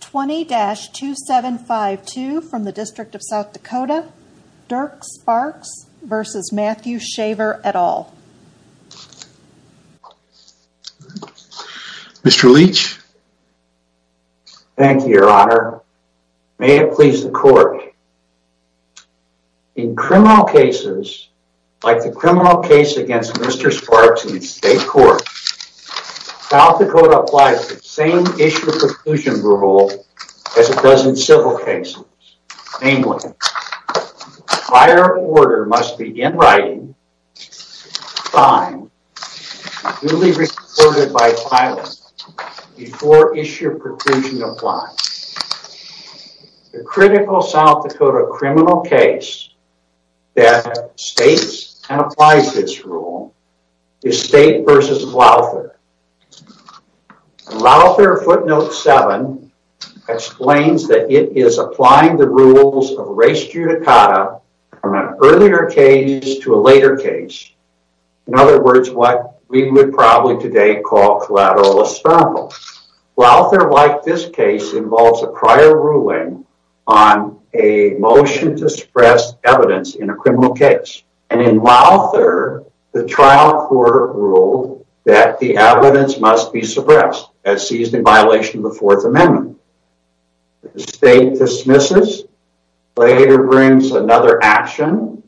20-2752 from the District of South Dakota, Dirk Sparks v. Matthew Shaver et al. Mr. Leach Thank you your honor, may it please the court. In criminal cases, like the criminal case against Mr. Sparks in the state court, South Dakota has issued a preclusion rule as it does in civil cases, namely, a prior order must be in writing, signed, and duly recorded by filing before issued preclusion applies. The critical South Dakota criminal case that states and applies this rule is State v. Louther. Louther footnote 7 explains that it is applying the rules of race judicata from an earlier case to a later case, in other words, what we would probably today call collateral espionage. Louther, like this case, involves a prior ruling on a motion to suppress evidence in a criminal case, and in Louther, the trial court ruled that the evidence must be suppressed as seized in violation of the Fourth Amendment. The state dismisses, later brings another action,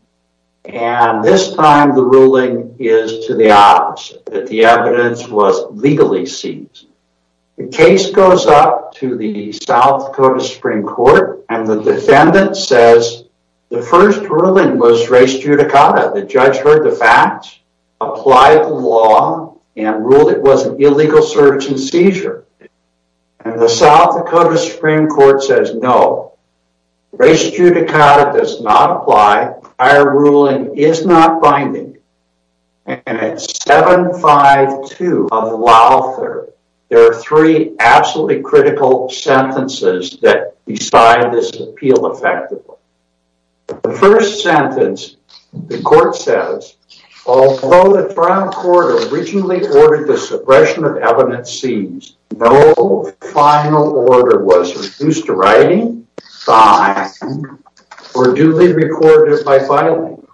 and this time the ruling is to the opposite, that the evidence was legally seized. The case goes up to the South Dakota Supreme Court, and the defendant says the first ruling was race judicata, the judge heard the facts, applied the law, and ruled it was an illegal search and seizure. And the South Dakota Supreme Court says no, race judicata does not apply, prior ruling is not binding, and at 7-5-2 of Louther, there are three absolutely critical sentences that decide this appeal effectively. The first sentence, the court says, although the trial court originally ordered the suppression of evidence seized, no final order was reduced to writing, signing, or duly recorded by filing.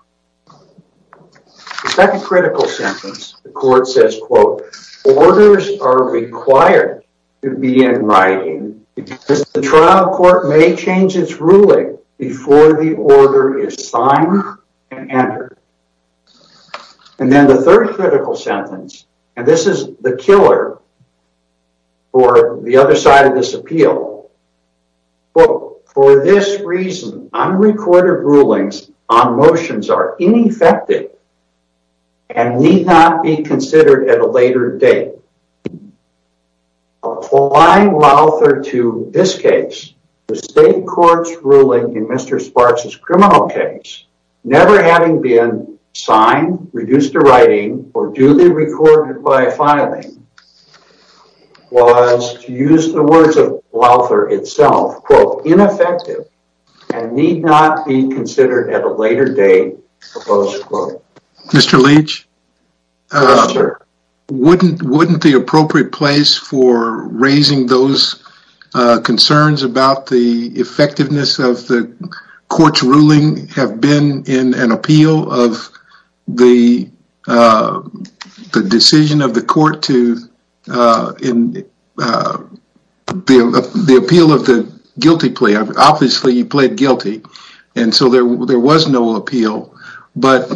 The second critical sentence, the court says, quote, orders are required to be in writing because the trial court may change its ruling before the order is signed and entered. And then the third critical sentence, and this is the killer for the other side of this appeal, quote, for this reason, unrecorded rulings on motions are ineffective and need not be considered at a later date. Applying Louther to this case, the state court's ruling in Mr. Sparks' criminal case, never having been signed, reduced to writing, or duly recorded by filing, was, to use the words of Louther itself, quote, ineffective and need not be considered at a later date, quote. Mr. Leach, wouldn't the appropriate place for raising those concerns about the effectiveness of the court's ruling have been in an appeal of the decision of the court to, in the appeal of the guilty plea. Obviously, he pled guilty, and so there was no appeal. But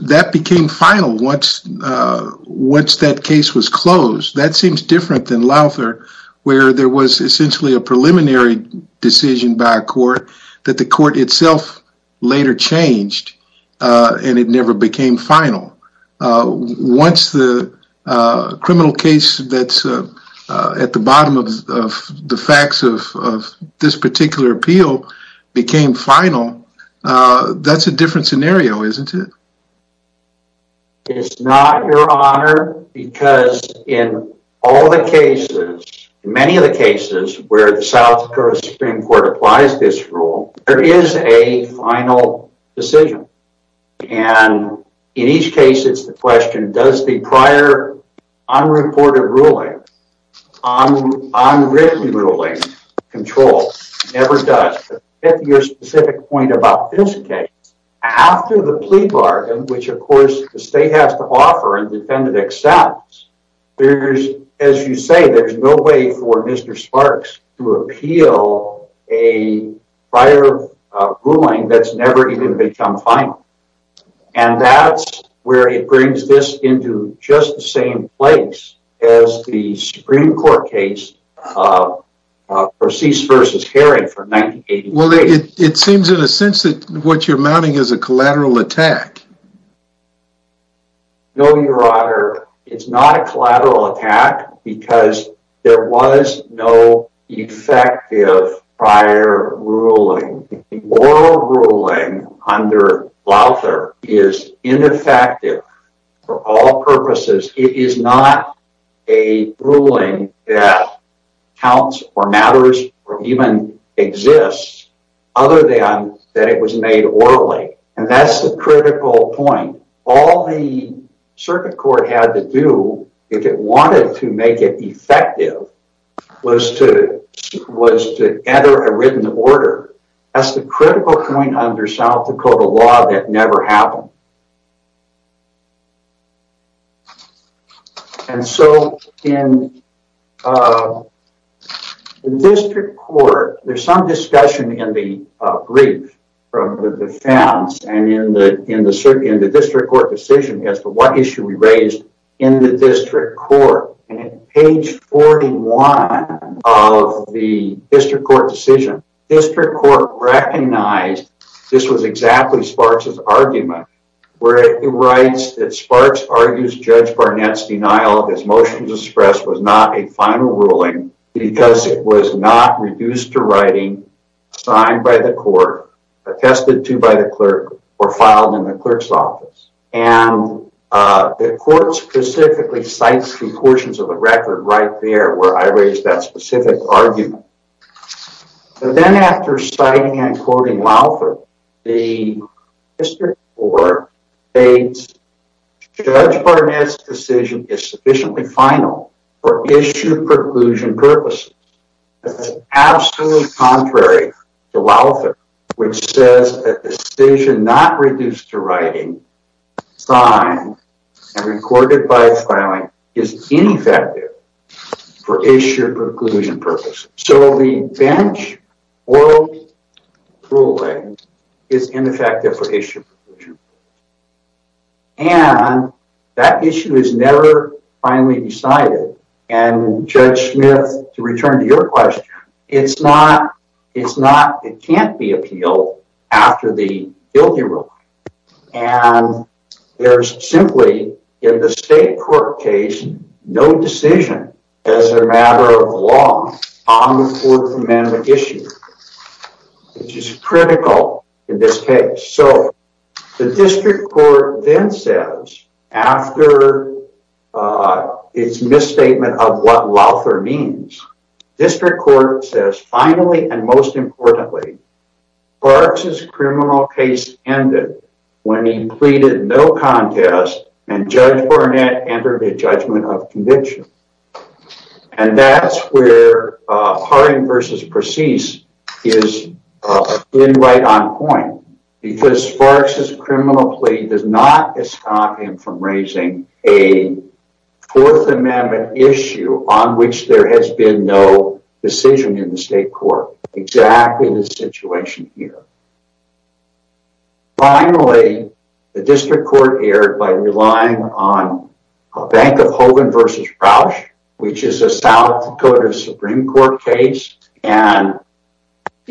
that became final once that case was closed. That seems different than Louther, where there was essentially a preliminary decision by a court that the court itself later changed, and it never became final. Once the criminal case that's at the bottom of the facts of this particular appeal became final, that's a different scenario, isn't it? It's not, Your Honor, because in all the cases, in many of the cases where the South Dakota Supreme Court applies this rule, there is a final decision. And in each case, it's the question, does the prior unreported ruling, unwritten ruling, control, never does. But to get to your specific point about this case, after the plea bargain, which, of course, the state has to offer and defendant accepts, there's, as you say, there's no way for Mr. A prior ruling that's never even become final. And that's where it brings this into just the same place as the Supreme Court case Perseus versus Herod for 1988. Well, it seems in a sense that what you're mounting is a collateral attack. No, Your Honor. It's not a collateral attack because there was no effective prior ruling. Moral ruling under Lauther is ineffective for all purposes. It is not a ruling that counts or matters or even exists other than that it was made orally. And that's the critical point. All the circuit court had to do, if it wanted to make it effective, was to enter a written order. That's the critical point under South Dakota law that never happened. And so in the district court, there's some discussion in the brief from the defense and in the district court decision as to what issue we raised in the district court. And in page 41 of the district court decision, district court recognized this was exactly Sparks' argument where he writes that Sparks argues Judge Barnett's denial of his motions expressed was not a final ruling because it was not reduced to writing, signed by the clerk or filed in the clerk's office. And the court specifically cites two portions of the record right there where I raised that specific argument. So then after citing and quoting Lauther, the district court states Judge Barnett's decision is sufficiently final for issue preclusion purposes. That's absolutely contrary to Lauther, which says a decision not reduced to writing, signed, and recorded by a filing is ineffective for issue preclusion purposes. So the bench oral ruling is ineffective for issue preclusion. And that issue is never finally decided. And Judge Smith, to return to your question, it can't be appealed after the guilty ruling. And there's simply, in the state court case, no decision as a matter of law on the Fourth Amendment issue, which is critical in this case. The district court then says, after its misstatement of what Lauther means, the district court says, finally and most importantly, Sparks' criminal case ended when he pleaded no contest and Judge Barnett entered a judgment of conviction. And that's where Harding v. Perseus is right on point, because Sparks' criminal plea does not stop him from raising a Fourth Amendment issue on which there has been no decision in the state court. Exactly the situation here. Finally, the district court erred by relying on a Bank of Hogan v. Proush, which is a South Dakota Supreme Court case. And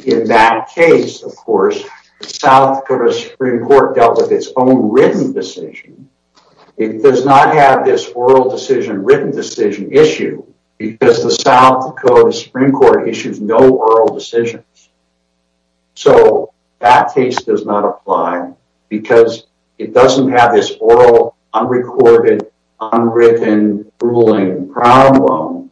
in that case, of course, South Dakota Supreme Court dealt with its own written decision. It does not have this oral decision, written decision issue, because the South Dakota Supreme Court issues no oral decisions. So, that case does not apply because it doesn't have this oral, unrecorded, unwritten, grueling problem,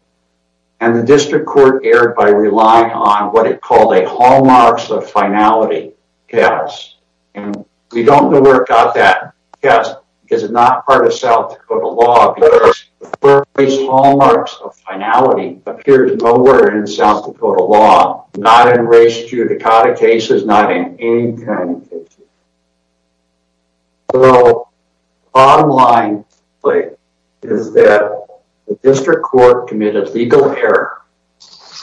and the district court erred by relying on what it called a hallmarks of finality case. And we don't know where it got that case, because it's not part of South Dakota law, because the first hallmarks of finality appear nowhere in South Dakota law, not in the Supreme Court case, not in any kind of case. So, the bottom line is that the district court committed legal error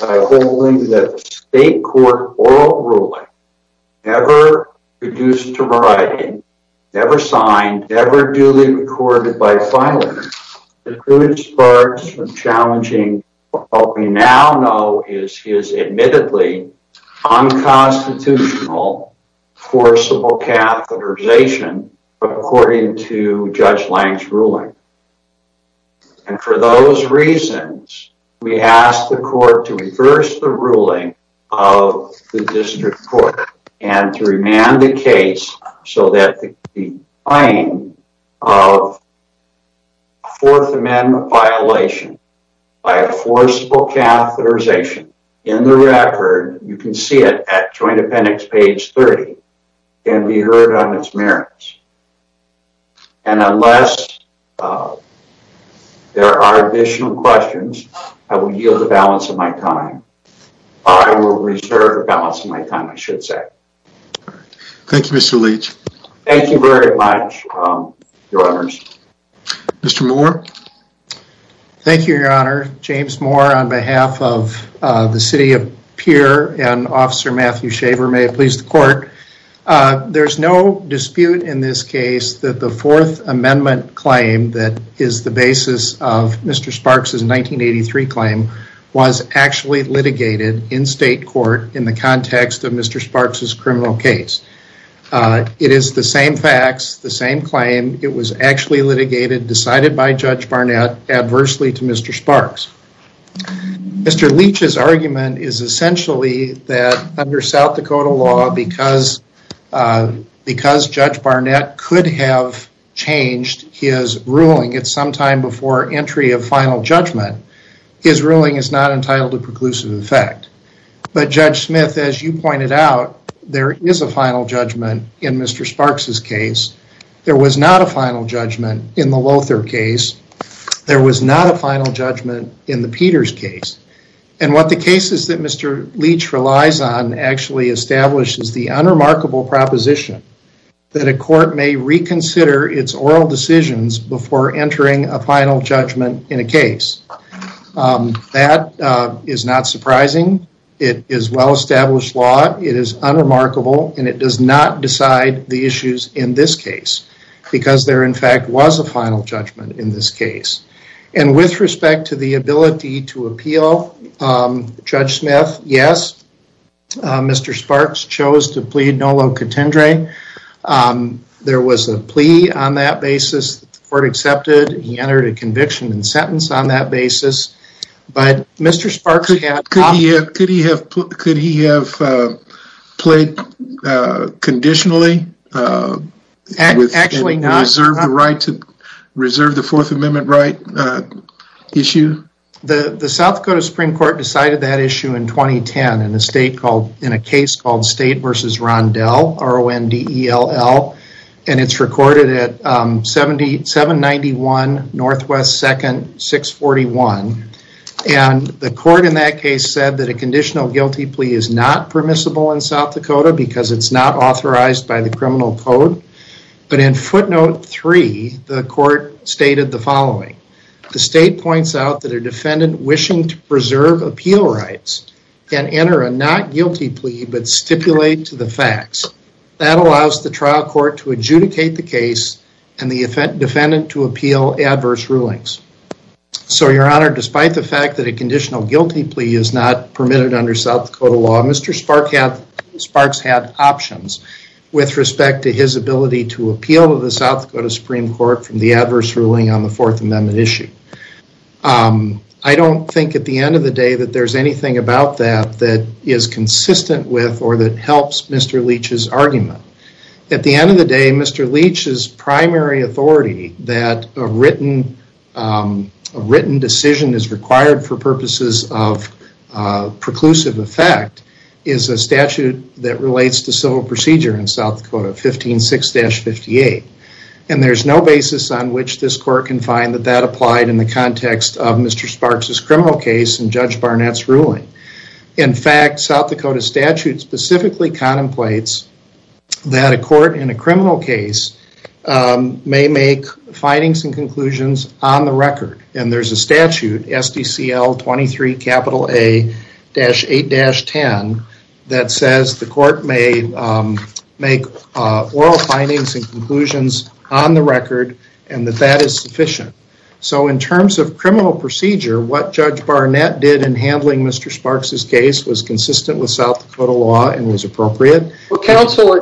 by holding that the state court oral ruling, never produced to writing, never signed, never duly recorded by filers. It really starts from challenging what we now know is admittedly unconstitutional, forcible catheterization, according to Judge Lange's ruling. And for those reasons, we asked the court to reverse the ruling of the district court and to remand the case so that the claim of Fourth Amendment violation by a forcible catheterization in the record, you can see it at Joint Appendix page 30, can be heard on its merits. And unless there are additional questions, I will yield the balance of my time. I will reserve the balance of my time, I should say. Thank you, Mr. Leach. Thank you very much, Your Honors. Mr. Moore. Thank you, Your Honor. James Moore on behalf of the City of Pierre and Officer Matthew Shaver. May it please the court. There's no dispute in this case that the Fourth Amendment claim that is the basis of Mr. Leach's 1983 claim was actually litigated in state court in the context of Mr. Sparks' criminal case. It is the same facts, the same claim. It was actually litigated, decided by Judge Barnett adversely to Mr. Sparks. Mr. Leach's argument is essentially that under South Dakota law, because Judge Barnett could have changed his ruling at some time before entry of final judgment, his ruling is not entitled to preclusive effect. But Judge Smith, as you pointed out, there is a final judgment in Mr. Sparks' case. There was not a final judgment in the Lothar case. There was not a final judgment in the Peters case. And what the cases that Mr. Leach relies on actually establishes the unremarkable proposition that a court may reconsider its oral decisions before entering a final judgment in a case. That is not surprising. It is well-established law. It is unremarkable. And it does not decide the issues in this case because there, in fact, was a final judgment in this case. And with respect to the ability to appeal, Judge Smith, yes, Mr. Sparks chose to plead contendere. There was a plea on that basis. The court accepted. He entered a conviction and sentence on that basis. But Mr. Sparks... Could he have played conditionally? Actually not. Reserved the right to reserve the Fourth Amendment right issue? The South Dakota Supreme Court decided that issue in 2010 in a case called State v. Rondell, R-O-N-D-E-L-L. And it is recorded at 791 NW 2nd 641. And the court in that case said that a conditional guilty plea is not permissible in South Dakota because it is not authorized by the criminal code. But in footnote 3, the court stated the following. The state points out that a defendant wishing to preserve appeal rights can enter a not guilty plea but stipulate to the facts. That allows the trial court to adjudicate the case and the defendant to appeal adverse rulings. So your honor, despite the fact that a conditional guilty plea is not permitted under South Dakota law, Mr. Sparks had options with respect to his ability to appeal to the South Dakota Supreme Court from the adverse ruling on the Fourth Amendment issue. Um, I don't think at the end of the day that there's anything about that that is consistent with or that helps Mr. Leach's argument. At the end of the day, Mr. Leach's primary authority that a written decision is required for purposes of preclusive effect is a statute that relates to civil procedure in South Dakota 15-6-58. And there's no basis on which this court can find that that applied in the context of Mr. Sparks' criminal case and Judge Barnett's ruling. In fact, South Dakota statute specifically contemplates that a court in a criminal case may make findings and conclusions on the record. And there's a statute, SDCL 23 A-8-10, that says the court may make oral findings and conclusions on the record and that that is sufficient. So in terms of criminal procedure, what Judge Barnett did in handling Mr. Sparks' case was consistent with South Dakota law and was appropriate. Counselor,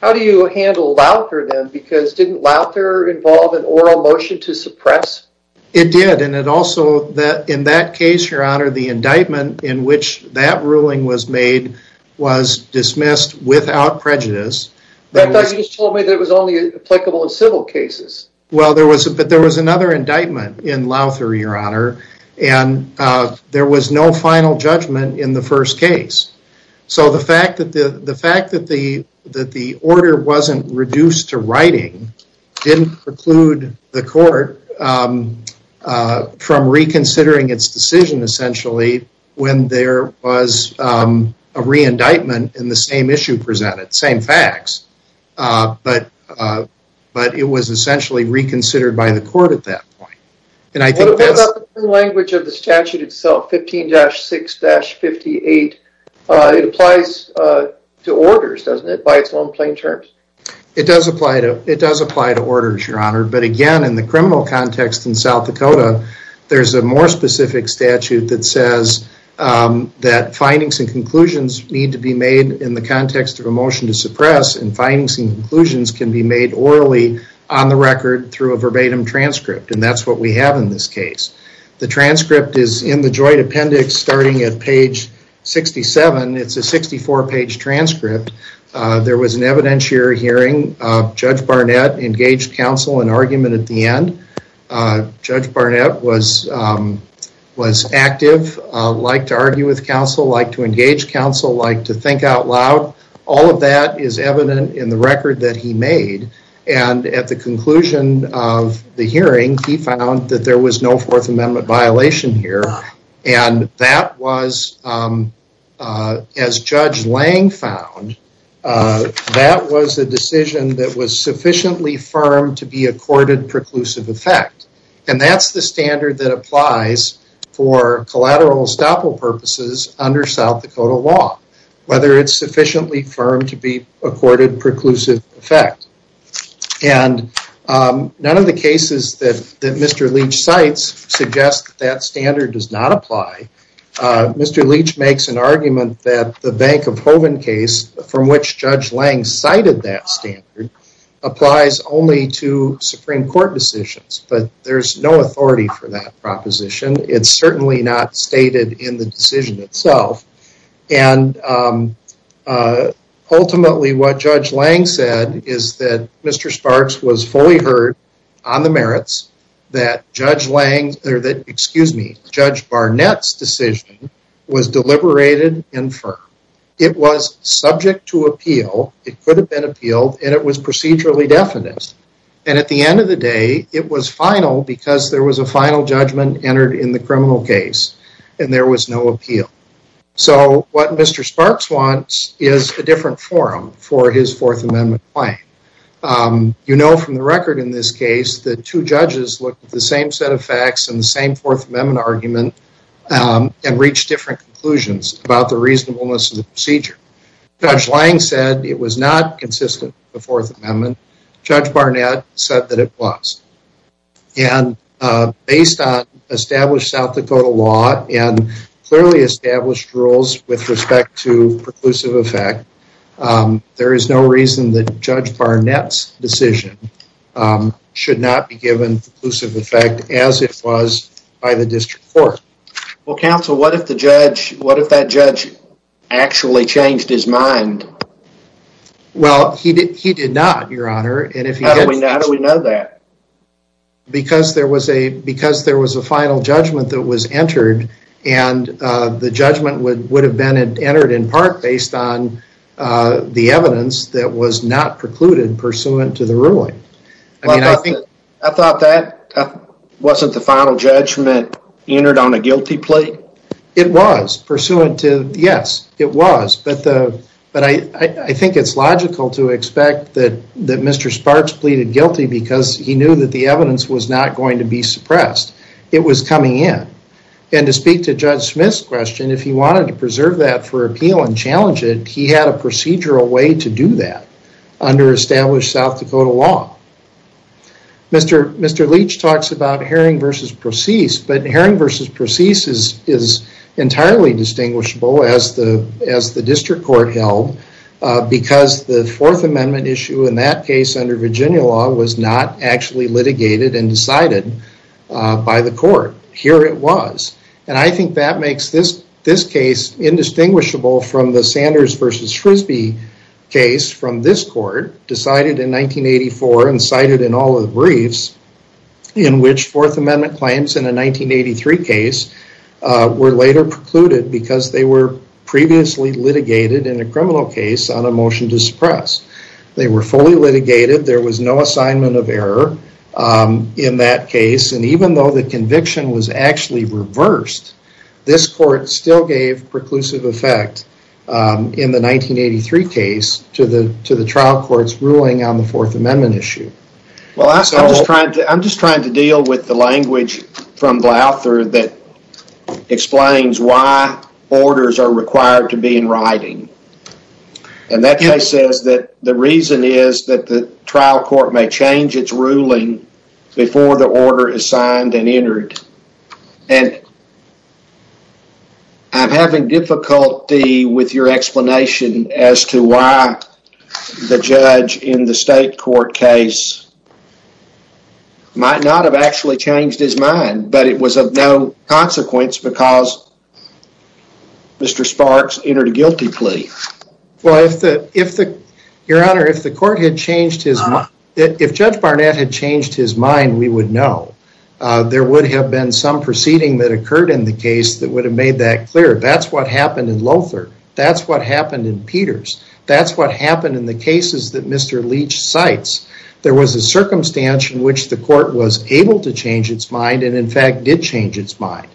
how do you handle Lauther then? Because didn't Lauther involve an oral motion to suppress? It did. And it also, in that case, your honor, the indictment in which that ruling was made was dismissed without prejudice. But you just told me that it was only applicable in civil cases. Well, but there was another indictment in Lauther, your honor, and there was no final judgment in the first case. So the fact that the order wasn't reduced to writing didn't preclude the court from reconsidering its decision, essentially, when there was a re-indictment in the same issue presented. Same facts. But it was essentially reconsidered by the court at that point. And I think that's... What about the language of the statute itself, 15-6-58, it applies to orders, doesn't it, by its own plain terms? It does apply to orders, your honor. But again, in the criminal context in South Dakota, there's a more specific statute that says that findings and conclusions need to be made in the context of a motion to suppress, and findings and conclusions can be made orally on the record through a verbatim transcript. And that's what we have in this case. The transcript is in the joint appendix starting at page 67. It's a 64-page transcript. There was an evidentiary hearing. Judge Barnett engaged counsel in argument at the end. Judge Barnett was active, liked to argue with counsel, liked to engage counsel, liked to think out loud. All of that is evident in the record that he made. And at the conclusion of the hearing, he found that there was no Fourth Amendment violation here. And that was, as Judge Lang found, that was a decision that was sufficiently firm to be accorded preclusive effect. And that's the standard that applies for collateral estoppel purposes under South Dakota law, whether it's sufficiently firm to be accorded preclusive effect. And none of the cases that Mr. Leach cites suggest that standard does not apply. Mr. Leach makes an argument that the Bank of Hovind case, from which Judge Lang cited that applies only to Supreme Court decisions. But there's no authority for that proposition. It's certainly not stated in the decision itself. And ultimately, what Judge Lang said is that Mr. Sparks was fully heard on the merits that Judge Barnett's decision was deliberated and firm. It was subject to appeal. It could have been appealed. And it was procedurally definite. And at the end of the day, it was final because there was a final judgment entered in the criminal case. And there was no appeal. So what Mr. Sparks wants is a different forum for his Fourth Amendment claim. You know from the record in this case, the two judges look at the same set of facts and the same Fourth Amendment argument and reach different conclusions about the reasonableness of the procedure. Judge Lang said it was not consistent with the Fourth Amendment. Judge Barnett said that it was. And based on established South Dakota law and clearly established rules with respect to preclusive effect, there is no reason that Judge Barnett's decision should not be given preclusive effect as it was by the district court. Well, counsel, what if the judge, what if that judge actually changed his mind? Well, he did not, Your Honor. How do we know that? Because there was a final judgment that was entered and the judgment would have been entered in part based on the evidence that was not precluded pursuant to the ruling. I mean, I think I thought that wasn't the final judgment entered on a guilty plea. It was pursuant to, yes, it was. But I think it's logical to expect that Mr. Sparks pleaded guilty because he knew that the evidence was not going to be suppressed. It was coming in. And to speak to Judge Smith's question, if he wanted to preserve that for appeal and challenge it, he had a procedural way to do that under established South Dakota law. Mr. Leach talks about Herring v. Procease, but Herring v. Procease is entirely distinguishable as the district court held because the Fourth Amendment issue in that case under Virginia law was not actually litigated and decided by the court. Here it was. And I think that makes this case indistinguishable from the Sanders v. Procease, which has been cited in all of the briefs, in which Fourth Amendment claims in a 1983 case were later precluded because they were previously litigated in a criminal case on a motion to suppress. They were fully litigated. There was no assignment of error in that case. And even though the conviction was actually reversed, this court still gave preclusive effect in the 1983 case to the trial court's ruling on the Fourth Amendment issue. Well, I'm just trying to deal with the language from Gloucester that explains why orders are required to be in writing. And that case says that the reason is that the trial court may change its ruling before the order is signed and entered. And I'm having difficulty with your explanation as to why the judge in the state court case might not have actually changed his mind. But it was of no consequence because Mr. Sparks entered a guilty plea. Well, if the your honor, if the court had changed his mind, if Judge Barnett had changed his mind, we would know. There would have been some proceeding that occurred in the case that would have made that clear. That's what happened in Lothar. That's what happened in Peters. That's what happened in the cases that Mr. Leach cites. There was a circumstance in which the court was able to change its mind and, in fact, did change its mind.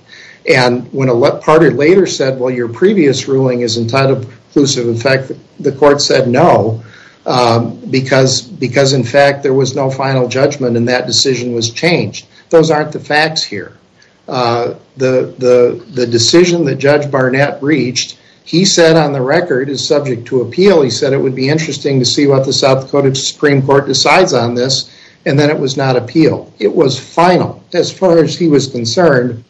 And when a party later said, well, your previous ruling is entirely inclusive, in fact, the final judgment in that decision was changed. Those aren't the facts here. The decision that Judge Barnett reached, he said on the record, is subject to appeal. He said it would be interesting to see what the South Dakota Supreme Court decides on this. And then it was not appeal. It was final. As far as he was concerned,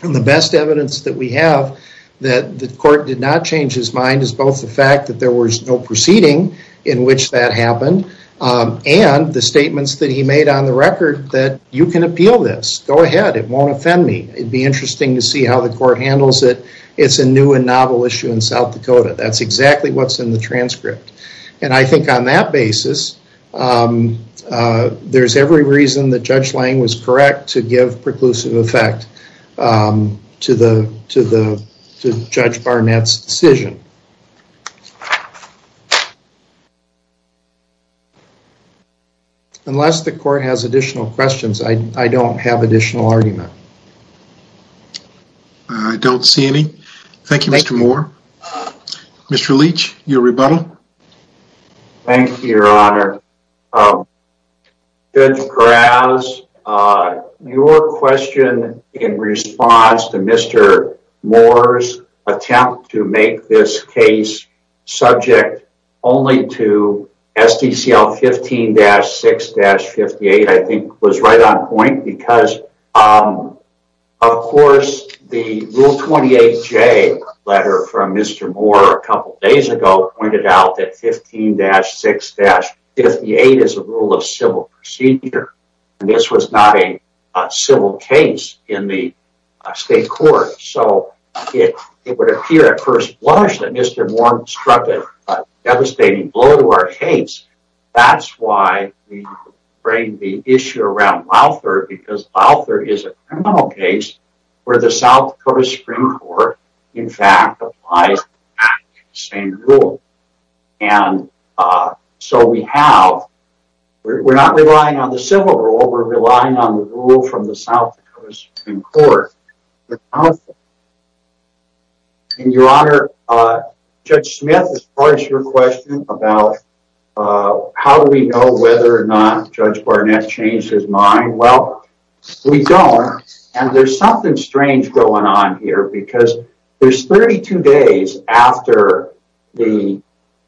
the best evidence that we have that the court did not change his mind is both the fact that there was no proceeding in which that happened and the statements that he made on the record that you can appeal this. Go ahead. It won't offend me. It would be interesting to see how the court handles it. It's a new and novel issue in South Dakota. That's exactly what's in the transcript. And I think on that basis, there's every reason that Judge Lange was correct to give preclusive effect to Judge Barnett's decision. Unless the court has additional questions, I don't have additional argument. I don't see any. Thank you, Mr. Moore. Mr. Leach, your rebuttal. Thank you, Your Honor. Judge Perez, your question in response to Mr. Moore's attempt to make this case subject only to SDCL 15-6-58, I think was right on point because, of course, the Rule 28J letter from Mr. Moore a couple days ago pointed out that 15-6-58 is a rule of civil procedure. And this was not a civil case in the state court. So it would appear at first blush that Mr. Moore struck a devastating blow to our case. That's why we bring the issue around Lauther because Lauther is a criminal case where the South Dakota Supreme Court, in fact, applies the same rule. And so we have, we're not relying on the civil rule. We're relying on the rule from the South Dakota Supreme Court. Counsel, Your Honor, Judge Smith, as far as your question about how do we know whether or not Judge Barnett changed his mind, well, we don't. And there's something strange going on here because there's 32 days after the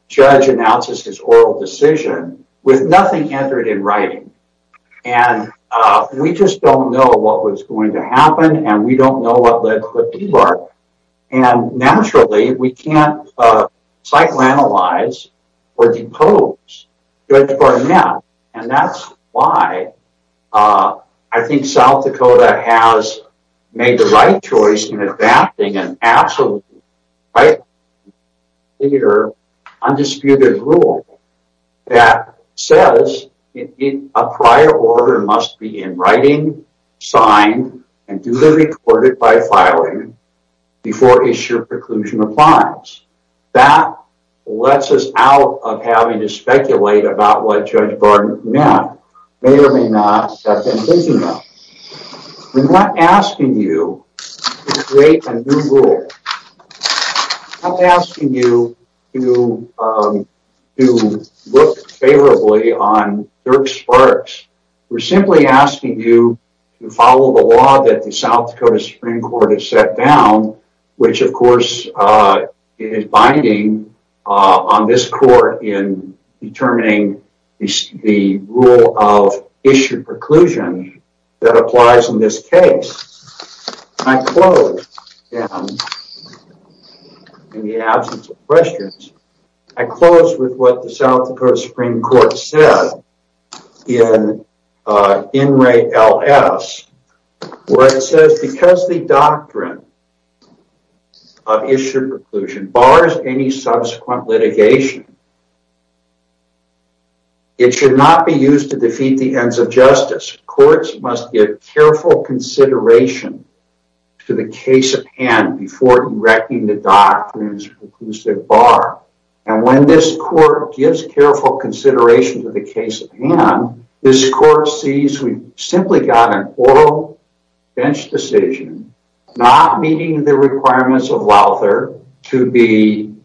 judge announces his oral decision with nothing entered in writing. And we just don't know what was going to happen. And we don't know what led to what. And naturally, we can't psychoanalyze or depose Judge Barnett. And that's why I think South Dakota has made the right choice in adapting an absolutely right, clear, undisputed rule that says a prior order must be in writing, signed, and duly recorded by filing before issued preclusion appliance. That lets us out of having to speculate about what Judge Barnett meant, may or may not have envisioned them. We're not asking you to create a new rule. I'm asking you to look favorably on Dirk Sparks. We're simply asking you to follow the law that the South Dakota Supreme Court has set down, which, of course, is binding on this court in determining the rule of issued preclusion. That applies in this case. I close, in the absence of questions, I close with what the South Dakota Supreme Court said in in re LS, where it says because the doctrine of issued preclusion bars any subsequent litigation, it should not be used to defeat the ends of justice. Courts must give careful consideration to the case at hand before directing the doctrines of the preclusive bar. And when this court gives careful consideration to the case at hand, this court sees we've simply got an oral bench decision, not meeting the requirements of Lauther to be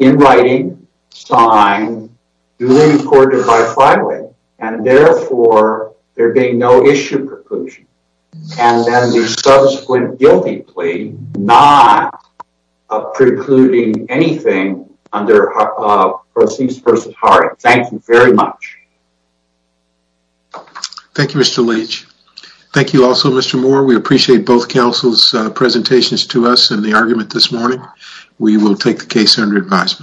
in writing, signed, duly recorded by filing. And therefore, there being no issue preclusion. And then the subsequent guilty plea, not precluding anything under proceeds versus hard. Thank you very much. Thank you, Mr. Leach. Thank you also, Mr. Moore. We appreciate both counsel's presentations to us and the argument this morning. We will take the case under advisement.